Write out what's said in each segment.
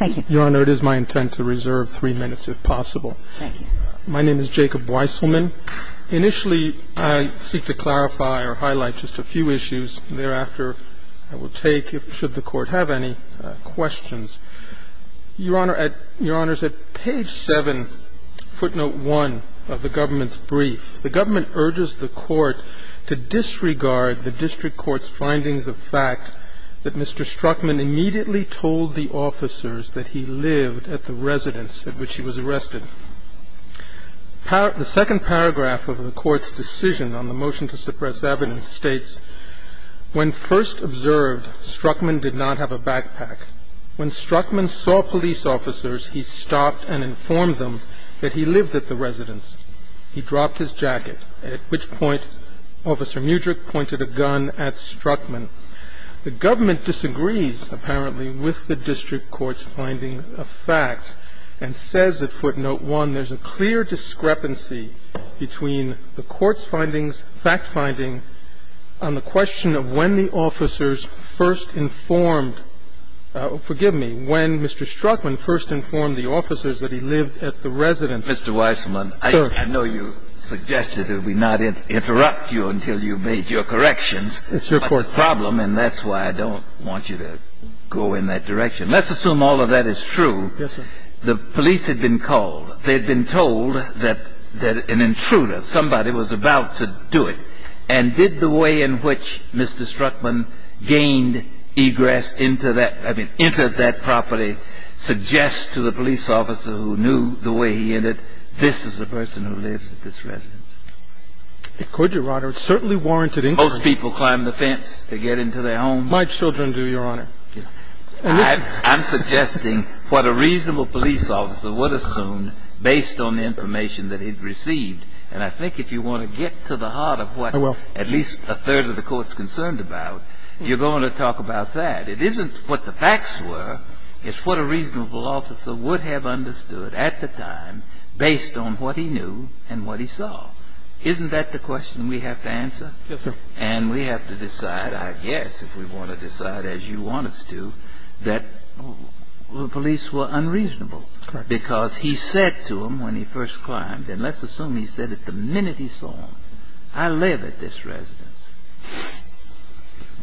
My name is Jacob Weisselman. Initially, I seek to clarify or highlight just a few issues. Thereafter, I will take, should the Court have any questions. Your Honor, at page 7, footnote 1 of the Government's brief, the Government urges the Court to disregard the District Court's findings of fact that Mr. Struckman immediately told the officers that he lived at the residence at which he was arrested. The second paragraph of the Court's decision on the motion to suppress evidence states, When first observed, Struckman did not have a backpack. When Struckman saw police officers, he stopped and informed them that he lived at the residence. He dropped his jacket, at which point Officer Mudrick pointed a gun at Struckman. The Government disagrees, apparently, with the District Court's finding of fact and says at footnote 1, there's a clear discrepancy between the Court's findings, fact-finding, on the question of when the officers first informed – forgive me – when Mr. Struckman first informed the officers that he lived at the residence. Mr. Weissman, I know you suggested that we not interrupt you until you've made your corrections. That's your question. That's my problem, and that's why I don't want you to go in that direction. Let's assume all of that is true. Yes, sir. The police had been called. They had been told that an intruder, somebody was about to do it. And did the way in which Mr. Struckman gained egress into that – I mean, entered that property suggest to the police officer who knew the way he entered, this is the person who lives at this residence? It could, Your Honor. It certainly warranted intrusion. Most people climb the fence to get into their homes. My children do, Your Honor. I'm suggesting what a reasonable police officer would assume based on the information that he'd received. And I think if you want to get to the heart of what at least a third of the Court's concerned about, you're going to talk about that. It isn't what the facts were. It's what a reasonable officer would have understood at the time based on what he knew and what he saw. Isn't that the question we have to answer? Yes, sir. And we have to decide, I guess, if we want to decide as you want us to, that the police were unreasonable. Correct. Because he said to them when he first climbed, and let's assume he said it the minute he saw them, I live at this residence.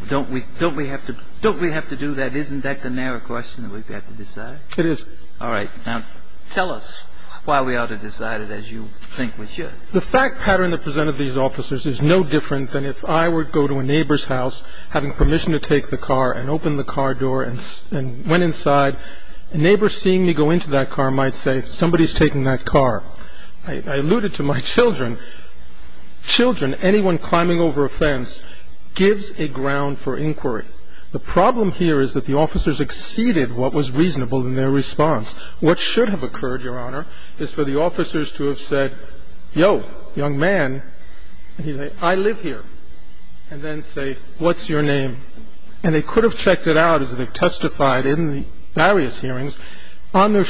Don't we have to do that? Isn't that the narrow question that we have to decide? It is. All right. Now, tell us why we ought to decide it as you think we should. The fact pattern that presented these officers is no different than if I were to go to a neighbor's house having permission to take the car and open the car door and went inside. A neighbor seeing me go into that car might say, somebody's taking that car. I alluded to my children. Children, anyone climbing over a fence, gives a ground for inquiry. The problem here is that the officers exceeded what was reasonable in their response. What should have occurred, Your Honor, is for the officers to have said, yo, young man, and he'd say, I live here, and then say, what's your name? And they could have checked it out as they testified in the various hearings on their behalf.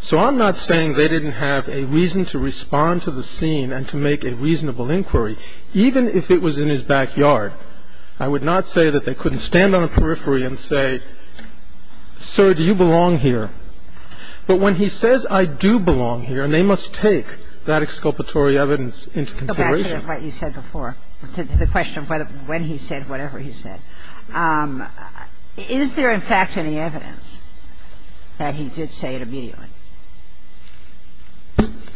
So I'm not saying they didn't have a reason to respond to the scene and to make a reasonable inquiry, even if it was in his backyard. I would not say that they couldn't stand on a periphery and say, sir, do you belong here? But when he says, I do belong here, and they must take that exculpatory evidence into consideration. Go back to what you said before, to the question of when he said whatever he said. Is there, in fact, any evidence that he did say it immediately?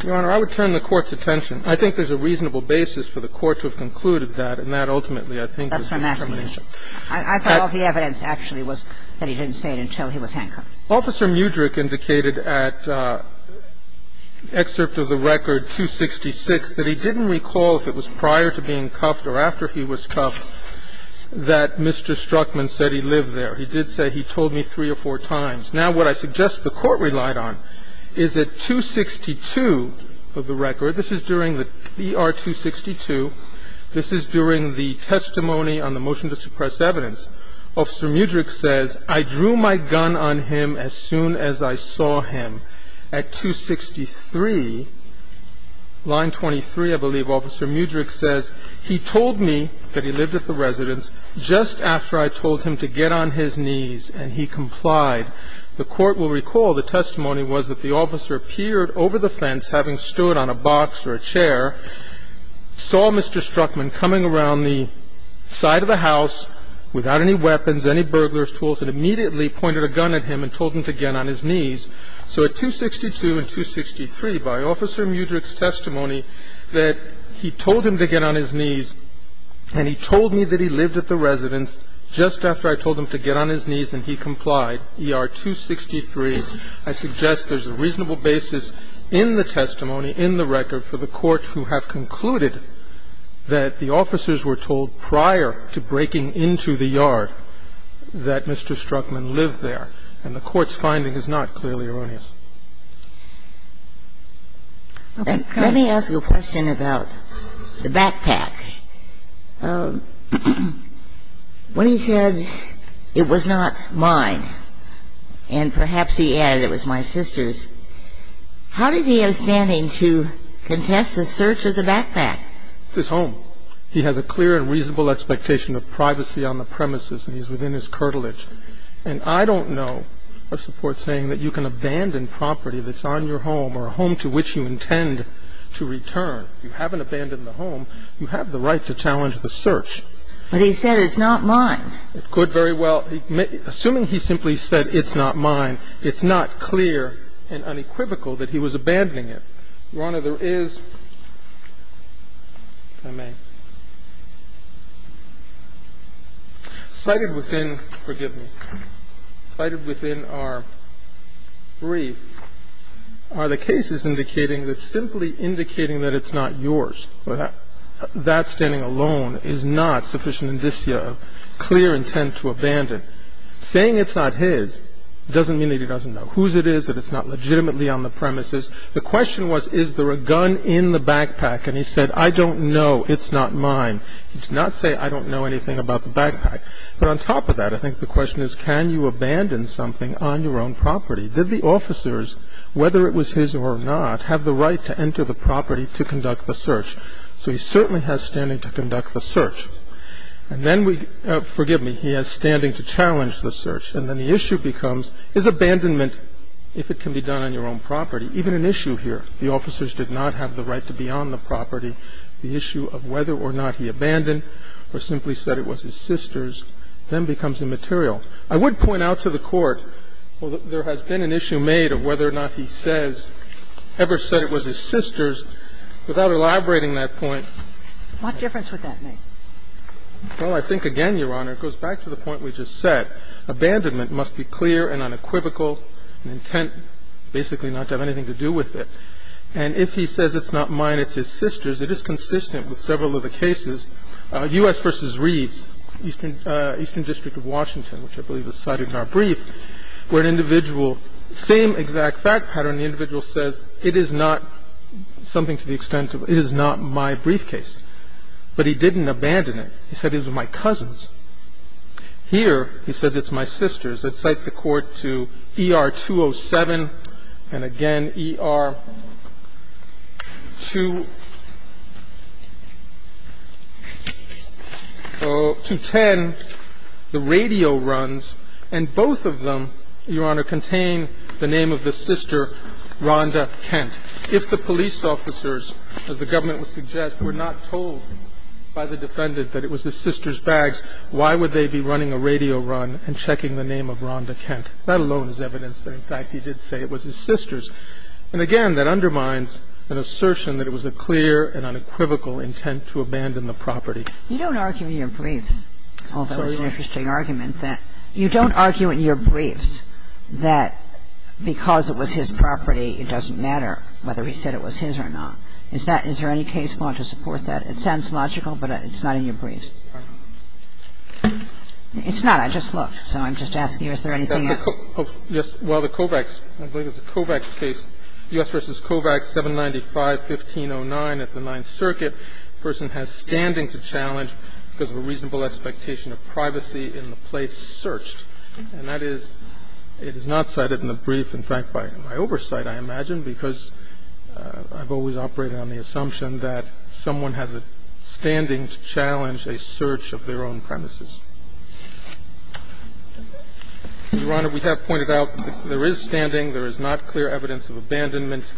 Your Honor, I would turn the Court's attention. I think there's a reasonable basis for the Court to have concluded that, and that ultimately, I think, is discrimination. That's what I'm asking you. I thought all the evidence actually was that he didn't say it until he was handcuffed. Officer Mudrick indicated at excerpt of the record 266 that he didn't recall if it was prior to being cuffed or after he was cuffed that Mr. Struckman said he lived there. He did say he told me three or four times. Now, what I suggest the Court relied on is that 262 of the record, this is during the ER 262, this is during the testimony on the motion to suppress evidence. Officer Mudrick says, I drew my gun on him as soon as I saw him. At 263, line 23, I believe, Officer Mudrick says, he told me that he lived at the residence just after I told him to get on his knees and he complied. The Court will recall the testimony was that the officer appeared over the fence, having stood on a box or a chair, saw Mr. Struckman coming around the side of the house without any weapons, any burglars' tools, and immediately pointed a gun at him and told him to get on his knees. So at 262 and 263, by Officer Mudrick's testimony that he told him to get on his knees and he told me that he lived at the residence just after I told him to get on his knees and he complied, ER 263, I suggest there's a reasonable basis in the testimony, in the record, for the Court to have concluded that the officers were told prior to breaking into the yard that Mr. Struckman lived there. And the Court's finding is not clearly erroneous. Okay. Let me ask you a question about the backpack. When he said, it was not mine, and perhaps he added it was my sister's, how does he have standing to contest the search of the backpack? It's his home. He has a clear and reasonable expectation of privacy on the premises and he's within his curtilage. And I don't know of support saying that you can abandon property that's on your home or a home to which you intend to return. You haven't abandoned the home. You have the right to challenge the search. But he said it's not mine. It could very well. Assuming he simply said it's not mine, it's not clear and unequivocal that he was abandoning it. Your Honor, there is, if I may, cited within, forgive me, cited within our brief are the cases indicating that simply indicating that it's not yours or that standing alone is not sufficient indicia of clear intent to abandon. Saying it's not his doesn't mean that he doesn't know whose it is, that it's not legitimately on the premises. The question was, is there a gun in the backpack? And he said, I don't know. It's not mine. He did not say, I don't know anything about the backpack. But on top of that, I think the question is, can you abandon something on your own property? Did the officers, whether it was his or not, have the right to enter the property to conduct the search? So he certainly has standing to conduct the search. And then we, forgive me, he has standing to challenge the search. And then the issue becomes, is abandonment, if it can be done on your own property, even an issue here. The officers did not have the right to be on the property. The issue of whether or not he abandoned or simply said it was his sister's then becomes immaterial. I would point out to the Court, well, there has been an issue made of whether or not he says, ever said it was his sister's, without elaborating that point. What difference would that make? Well, I think, again, Your Honor, it goes back to the point we just said. Abandonment must be clear and unequivocal, an intent basically not to have anything to do with it. And if he says it's not mine, it's his sister's, it is consistent with several of the cases. U.S. v. Reeves, Eastern District of Washington, which I believe is cited in our brief, where an individual, same exact fact pattern, the individual says it is not something to the extent of it is not my briefcase. But he didn't abandon it. He said it was my cousin's. Here, he says it's my sister's. I'd cite the Court to ER 207 and, again, ER 210, the radio runs, and both of them, Your Honor, contain the name of the sister, Rhonda Kent. If the police officers, as the government would suggest, were not told by the defendant that it was his sister's bags, why would they be running a radio run and checking the name of Rhonda Kent? That alone is evidence that, in fact, he did say it was his sister's. And, again, that undermines an assertion that it was a clear and unequivocal intent to abandon the property. Kagan. You don't argue in your briefs, although it's an interesting argument, that you don't argue in your briefs that because it was his property, it doesn't matter whether he said it was his or not. Is that – is there any case law to support that? It sounds logical, but it's not in your briefs. It's not. I just looked, so I'm just asking you, is there anything else? Yes. Well, the Kovacs – I believe it's a Kovacs case, U.S. v. Kovacs, 795-1509 at the Ninth Circuit, the person has standing to challenge because of a reasonable expectation of privacy in the place searched. And that is – it is not cited in the brief, in fact, by my oversight, I imagine, because I've always operated on the assumption that someone has a standing to challenge a search of their own premises. Your Honor, we have pointed out that there is standing, there is not clear evidence of abandonment,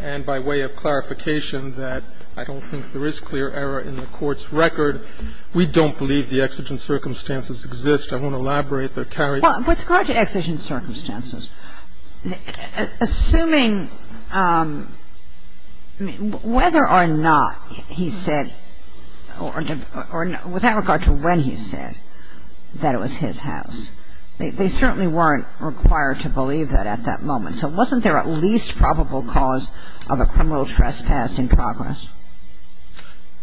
and by way of clarification that I don't think there is clear error in the Court's record, we don't believe the exigent circumstances exist. I won't elaborate. They're carried out. Well, with regard to exigent circumstances, assuming whether or not he said or without regard to when he said that it was his house, they certainly weren't required to believe that at that moment. So wasn't there at least probable cause of a criminal trespass in progress?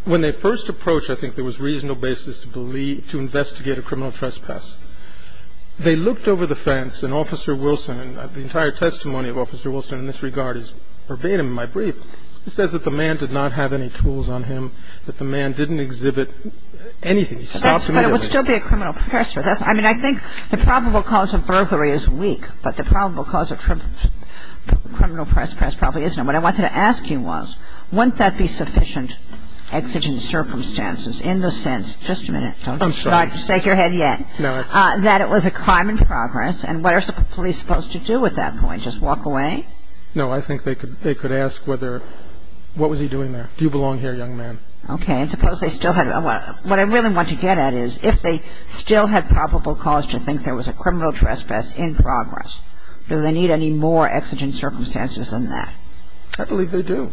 When they first approached, I think there was reasonable basis to believe – to investigate a criminal trespass. They looked over the fence, and Officer Wilson – and the entire testimony of Officer Wilson in this regard is verbatim in my brief – he says that the man did not have any tools on him, that the man didn't exhibit anything. He stopped immediately. But it would still be a criminal trespass. I mean, I think the probable cause of burglary is weak, but the probable cause of criminal trespass probably isn't. What I wanted to ask you was, wouldn't that be sufficient exigent circumstances in the sense – just a minute. I'm sorry. Take your head yet. That it was a crime in progress. And what are police supposed to do at that point? Just walk away? No. I think they could ask whether – what was he doing there? Do you belong here, young man? Okay. And suppose they still had – what I really want to get at is if they still had probable cause to think there was a criminal trespass in progress, do they need any more exigent circumstances than that? I believe they do.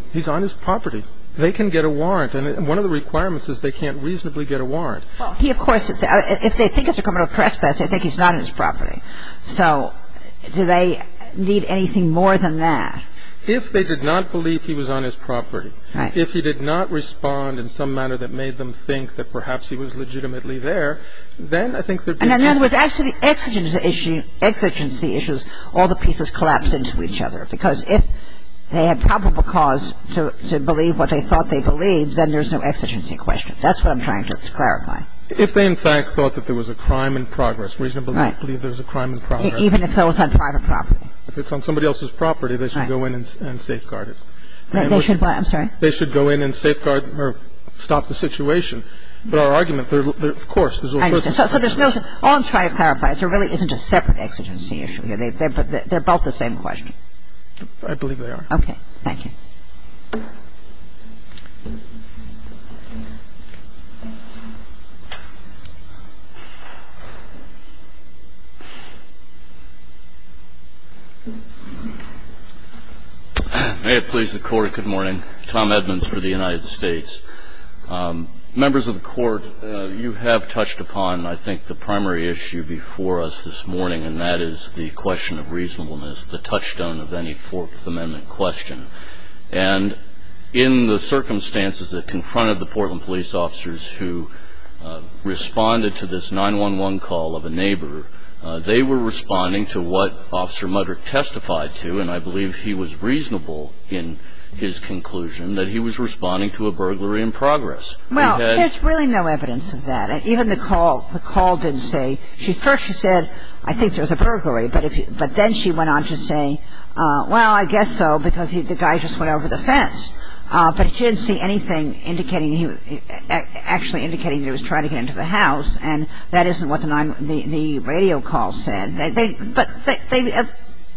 They can get a warrant. And one of the requirements is they can't reasonably get a warrant. Well, he, of course – if they think it's a criminal trespass, they think he's not on his property. So do they need anything more than that? If they did not believe he was on his property, if he did not respond in some manner that made them think that perhaps he was legitimately there, then I think there would be – And then there was actually exigency issues. All the pieces collapse into each other. Because if they had probable cause to believe what they thought they believed, then there's no exigency question. But if they had probable cause to believe what they thought they believed, then there But if they had probable cause to believe what they thought they believed, that's what I'm trying to clarify. If they, in fact, thought that there was a crime in progress, reasonably believe there was a crime in progress. Even if it was on private property. If it's on somebody else's property, they should go in and safeguard it. They should what? I'm sorry? They should go in and safeguard or stop the situation. But our argument, of course, there's all sorts of circumstances. I understand. So there's no – all I'm trying to clarify is there really isn't a separate exigency issue here. They're both the same question. I believe they are. Okay. Thank you. May it please the Court, good morning. Tom Edmonds for the United States. Members of the Court, you have touched upon, I think, the primary issue before us this morning, and that is the question of reasonableness, the touchstone of any Fourth Amendment question. And in the circumstances that confronted the Portland police officers who responded to this 911 call of a neighbor, they were responding to what Officer Mudrick testified to, and I believe he was reasonable in his conclusion, that he was responding to a burglary in progress. Well, there's really no evidence of that. Even the call didn't say – first she said, I think there was a burglary. But then she went on to say, well, I guess so, because the guy just went over the fence. But she didn't see anything actually indicating he was trying to get into the house, and that isn't what the radio call said.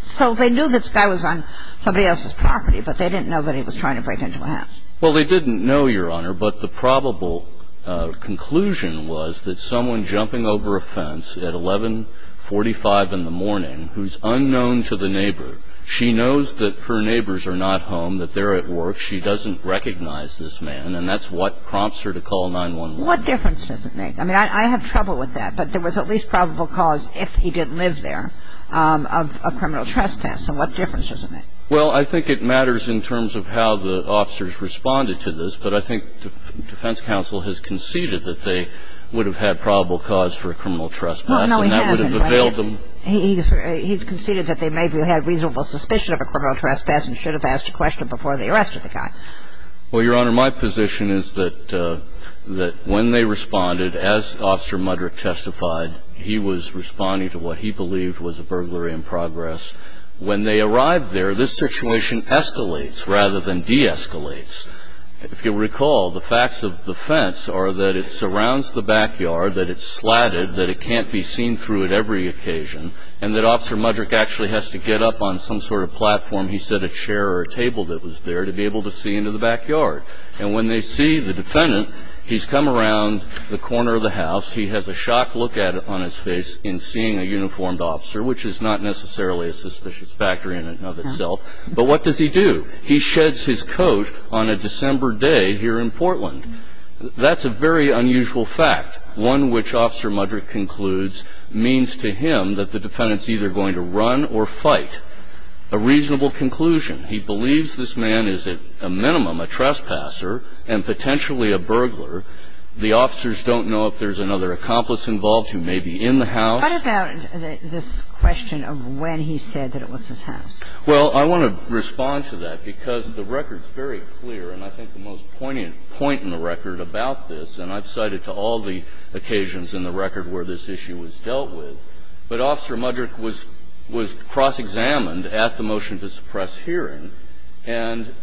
So they knew this guy was on somebody else's property, but they didn't know that he was trying to break into a house. Well, they didn't know, Your Honor, but the probable conclusion was that someone jumping over a fence at 11.45 in the morning, who's unknown to the neighbor, she knows that her neighbors are not home, that they're at work. She doesn't recognize this man, and that's what prompts her to call 911. What difference does it make? I mean, I have trouble with that, but there was at least probable cause, if he did live there, of a criminal trespass. So what difference does it make? Well, I think it matters in terms of how the officers responded to this. But I think defense counsel has conceded that they would have had probable cause for a criminal trespass. No, he hasn't. He's conceded that they maybe had reasonable suspicion of a criminal trespass and should have asked a question before they arrested the guy. Well, Your Honor, my position is that when they responded, as Officer Mudrick testified, he was responding to what he believed was a burglary in progress. When they arrived there, this situation escalates rather than de-escalates. If you'll recall, the facts of the fence are that it surrounds the backyard, that it's slatted, that it can't be seen through at every occasion, and that Officer Mudrick actually has to get up on some sort of platform, he said a chair or a table that was there, to be able to see into the backyard. And when they see the defendant, he's come around the corner of the house. He has a shocked look on his face in seeing a uniformed officer, which is not necessarily a suspicious factor in and of itself. But what does he do? He sheds his coat on a December day here in Portland. That's a very unusual fact, one which Officer Mudrick concludes means to him that the defendant's either going to run or fight. A reasonable conclusion. He believes this man is at a minimum a trespasser and potentially a burglar. The officers don't know if there's another accomplice involved who may be in the What about this question of when he said that it was his house? Well, I want to respond to that, because the record's very clear, and I think the most poignant point in the record about this, and I've cited to all the occasions in the record where this issue was dealt with, but Officer Mudrick was cross-examined at the motion to suppress hearing, and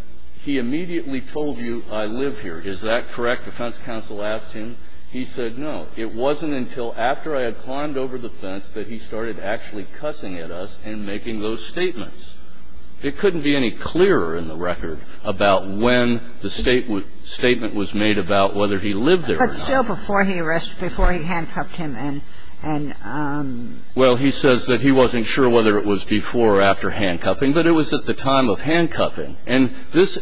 he immediately told you, I live here. Is that correct? Defense counsel asked him. He said no. It wasn't until after I had climbed over the fence that he started actually cussing at us and making those statements. It couldn't be any clearer in the record about when the statement was made about whether he lived there or not. But still before he handcuffed him and Well, he says that he wasn't sure whether it was before or after handcuffing, but it was at the time of handcuffing. And this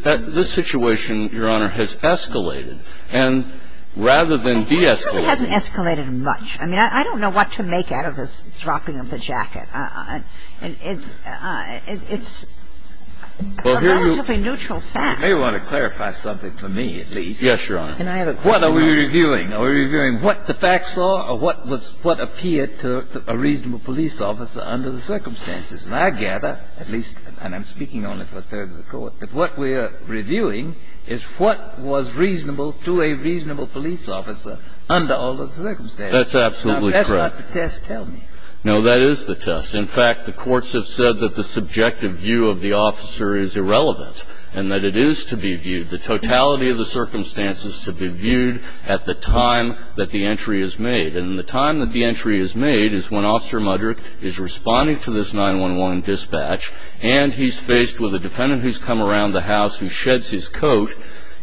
situation, Your Honor, has escalated. And rather than de-escalate It hasn't escalated much. I mean, I don't know what to make out of this dropping of the jacket. It's a relatively neutral fact. You may want to clarify something for me at least. Yes, Your Honor. Can I have a question? What are we reviewing? Are we reviewing what the facts are or what was what appeared to a reasonable police officer under the circumstances? And I gather, at least, and I'm speaking only for a third of the Court, that what we are reviewing is what was reasonable to a reasonable police officer under all the circumstances. That's absolutely correct. Now, that's not the test, tell me. No, that is the test. In fact, the courts have said that the subjective view of the officer is irrelevant and that it is to be viewed, the totality of the circumstances to be viewed at the time that the entry is made. And the time that the entry is made is when Officer Mudder is responding to this dispatch and he's faced with a defendant who's come around the house who sheds his coat.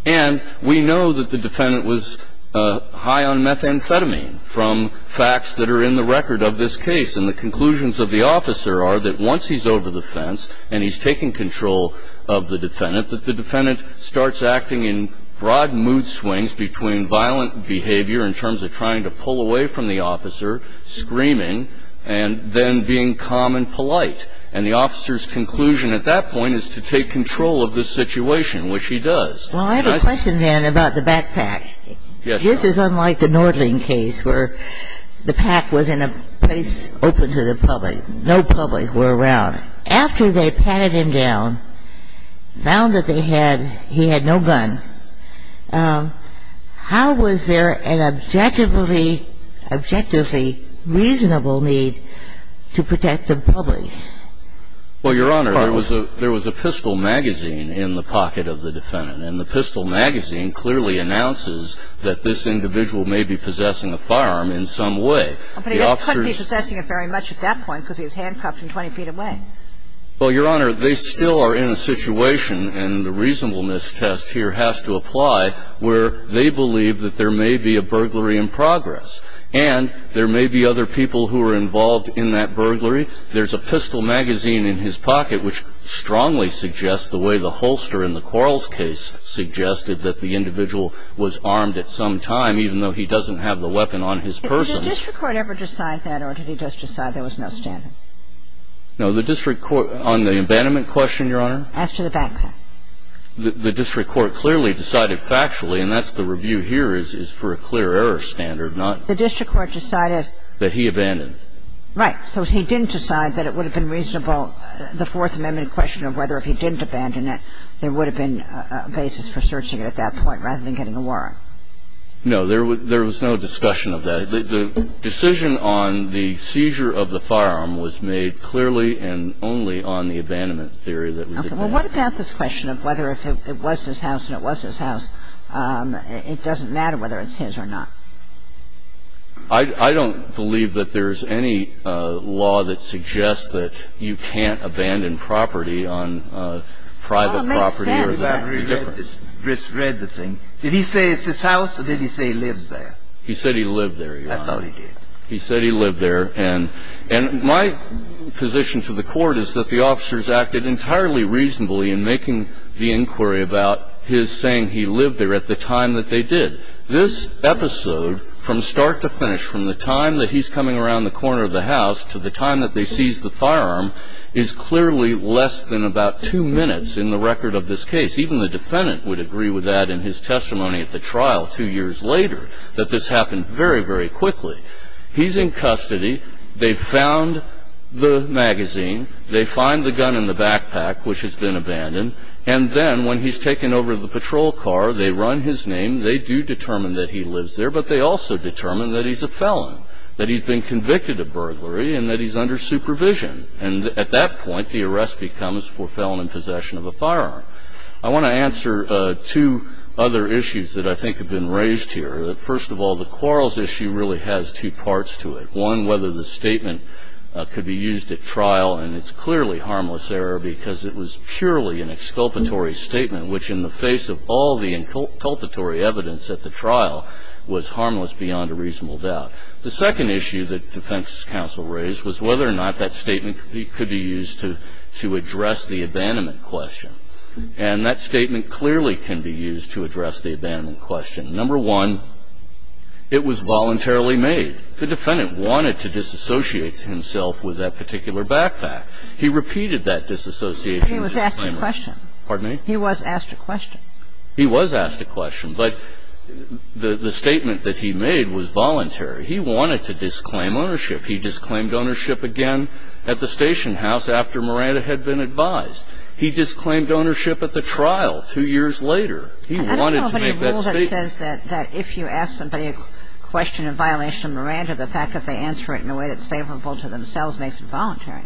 And we know that the defendant was high on methamphetamine from facts that are in the record of this case. And the conclusions of the officer are that once he's over the fence and he's taking control of the defendant, that the defendant starts acting in broad mood swings between violent behavior in terms of trying to pull away from the officer, screaming, and then being calm and polite. And the officer's conclusion at that point is to take control of the situation, which he does. Well, I have a question, then, about the backpack. Yes, Your Honor. This is unlike the Nordling case where the pack was in a place open to the public. No public were around. After they patted him down, found that they had he had no gun, how was there an objectively reasonable need to protect the public? Well, Your Honor, there was a pistol magazine in the pocket of the defendant. And the pistol magazine clearly announces that this individual may be possessing a firearm in some way. But he couldn't be possessing it very much at that point because he was handcuffed from 20 feet away. Well, Your Honor, they still are in a situation, and the reasonableness test here has to apply, where they believe that there may be a burglary in progress. And there may be other people who are involved in that burglary. There's a pistol magazine in his pocket, which strongly suggests the way the holster in the Quarles case suggested that the individual was armed at some time, even though he doesn't have the weapon on his person. Did the district court ever decide that, or did he just decide there was no standing? No, the district court on the abandonment question, Your Honor. As to the backpack? The district court clearly decided factually, and that's the review here, is for a clear error standard, not that he abandoned. Right. So he didn't decide that it would have been reasonable, the Fourth Amendment question of whether if he didn't abandon it, there would have been a basis for searching it at that point rather than getting a warrant. No, there was no discussion of that. The decision on the seizure of the firearm was made clearly and only on the abandonment theory that was advanced. Okay. Well, what about this question of whether if it was his house and it was his house, it doesn't matter whether it's his or not? I don't believe that there's any law that suggests that you can't abandon property on private property or that would be different. Well, it makes sense. I read this. Grist read the thing. Did he say it's his house, or did he say he lives there? He said he lived there, Your Honor. I thought he did. He said he lived there. And my position to the Court is that the officers acted entirely reasonably in making the inquiry about his saying he lived there at the time that they did. This episode from start to finish, from the time that he's coming around the corner of the house to the time that they seized the firearm, is clearly less than about two minutes in the record of this case. Even the defendant would agree with that in his testimony at the trial two years later, that this happened very, very quickly. He's in custody. They've found the magazine. They find the gun in the backpack, which has been abandoned. And then when he's taken over the patrol car, they run his name. They do determine that he lives there, but they also determine that he's a felon, that he's been convicted of burglary, and that he's under supervision. And at that point, the arrest becomes for felon in possession of a firearm. I want to answer two other issues that I think have been raised here. First of all, the quarrels issue really has two parts to it. One, whether the statement could be used at trial. And it's clearly harmless error because it was purely an exculpatory statement, which in the face of all the inculpatory evidence at the trial, was harmless beyond a reasonable doubt. The second issue that defense counsel raised was whether or not that statement could be used to address the abandonment question. And that statement clearly can be used to address the abandonment question. Number one, it was voluntarily made. The defendant wanted to disassociate himself with that particular backpack. He repeated that disassociation disclaimer. He was asked a question. Pardon me? He was asked a question. He was asked a question. But the statement that he made was voluntary. He wanted to disclaim ownership. He disclaimed ownership again at the station house after Miranda had been advised. He disclaimed ownership at the trial two years later. He wanted to make that statement. I don't know of any rule that says that if you ask somebody a question in violation of Miranda, the fact that they answer it in a way that's favorable to themselves makes it voluntary.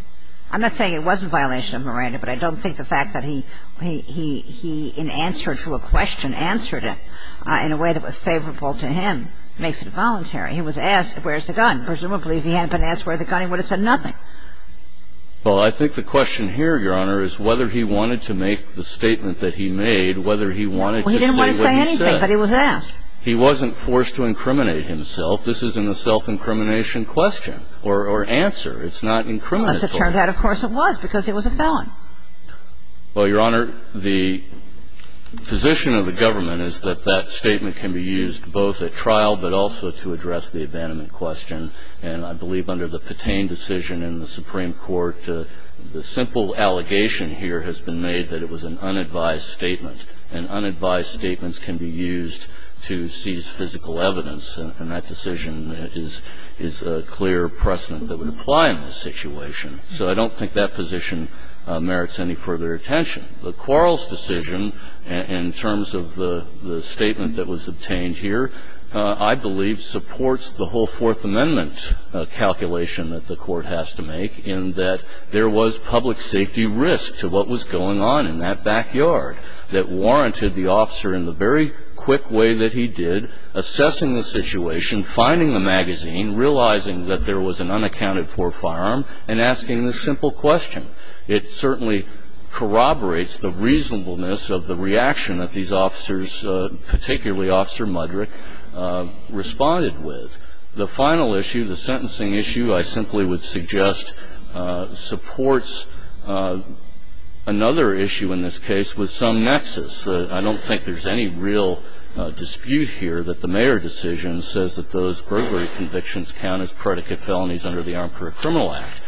I'm not saying it wasn't a violation of Miranda, but I don't think the fact that he, in answer to a question, answered it in a way that was favorable to him makes it voluntary. He was asked where's the gun. Presumably, if he hadn't been asked where's the gun, he would have said nothing. Well, I think the question here, Your Honor, is whether he wanted to make the statement that he made, whether he wanted to say what he said. Well, he didn't want to say anything, but he was asked. He wasn't forced to incriminate himself. This isn't a self-incrimination question or answer. It's not incriminatory. Unless it turned out, of course, it was, because he was a felon. Well, Your Honor, the position of the government is that that statement can be used both at trial but also to address the abandonment question. And I believe under the Patain decision in the Supreme Court, the simple allegation here has been made that it was an unadvised statement, and unadvised statements can be used to seize physical evidence, and that decision is a clear precedent that would apply in this situation. So I don't think that position merits any further attention. The Quarles decision, in terms of the statement that was obtained here, I believe supports the whole Fourth Amendment calculation that the Court has to make in that there was public safety risk to what was going on in that backyard that warranted the officer, in the very quick way that he did, assessing the situation, finding the magazine, realizing that there was an unaccounted-for firearm, and asking the simple question. It certainly corroborates the reasonableness of the reaction that these officers, particularly Officer Mudrick, responded with. The final issue, the sentencing issue, I simply would suggest supports another issue in this case with some nexus. I don't think there's any real dispute here that the Mayer decision says that those burglary convictions count as predicate felonies under the Armed Criminal Act.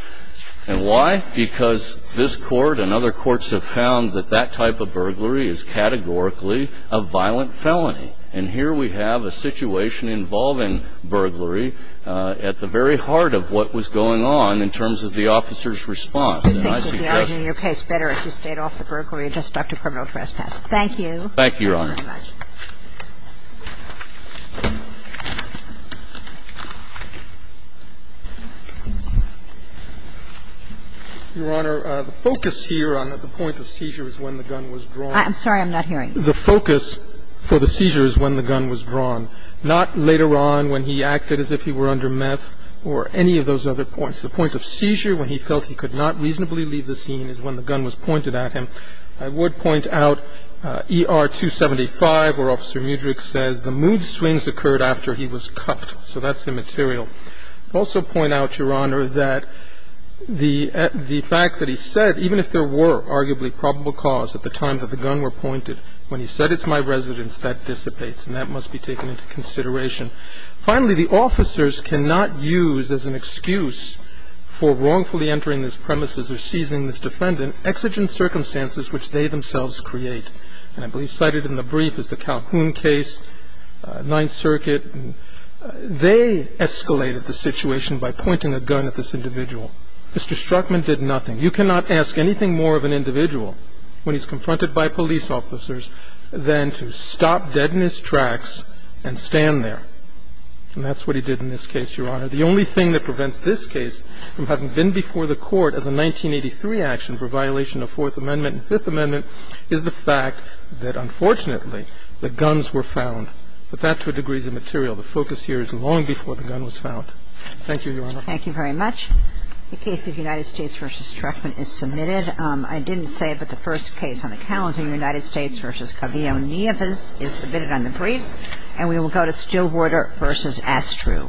And why? Because this Court and other courts have found that that type of burglary is categorically a violent felony. And here we have a situation involving burglary at the very heart of what was going on in terms of the officer's response. And I suggest that the argument in your case better if you stayed off the burglary and just stuck to criminal trespass. Thank you. Thank you, Your Honor. Your Honor, the focus here on the point of seizure is when the gun was drawn. I'm sorry, I'm not hearing you. The focus for the seizure is when the gun was drawn, not later on when he acted as if he were under meth or any of those other points. The point of seizure when he felt he could not reasonably leave the scene is when the gun was pointed at him. I would point out ER 275 where Officer Mudrick says the mood swings occurred after he was cuffed. So that's immaterial. I would also point out, Your Honor, that the fact that he said, even if there were at the time that the gun were pointed, when he said, it's my residence, that dissipates and that must be taken into consideration. Finally, the officers cannot use as an excuse for wrongfully entering this premises or seizing this defendant exigent circumstances which they themselves create. And I believe cited in the brief is the Calhoun case, Ninth Circuit. They escalated the situation by pointing a gun at this individual. Mr. Struckman did nothing. You cannot ask anything more of an individual when he's confronted by police officers than to stop dead in his tracks and stand there. And that's what he did in this case, Your Honor. The only thing that prevents this case from having been before the Court as a 1983 action for violation of Fourth Amendment and Fifth Amendment is the fact that, unfortunately, the guns were found. But that, to a degree, is immaterial. The focus here is long before the gun was found. Thank you, Your Honor. Well, thank you very much. The case of United States v. Struckman is submitted. I didn't say it, but the first case on the calendar, United States v. Kavio Nieves, is submitted on the briefs. And we will go to Stillwater v. Astrew.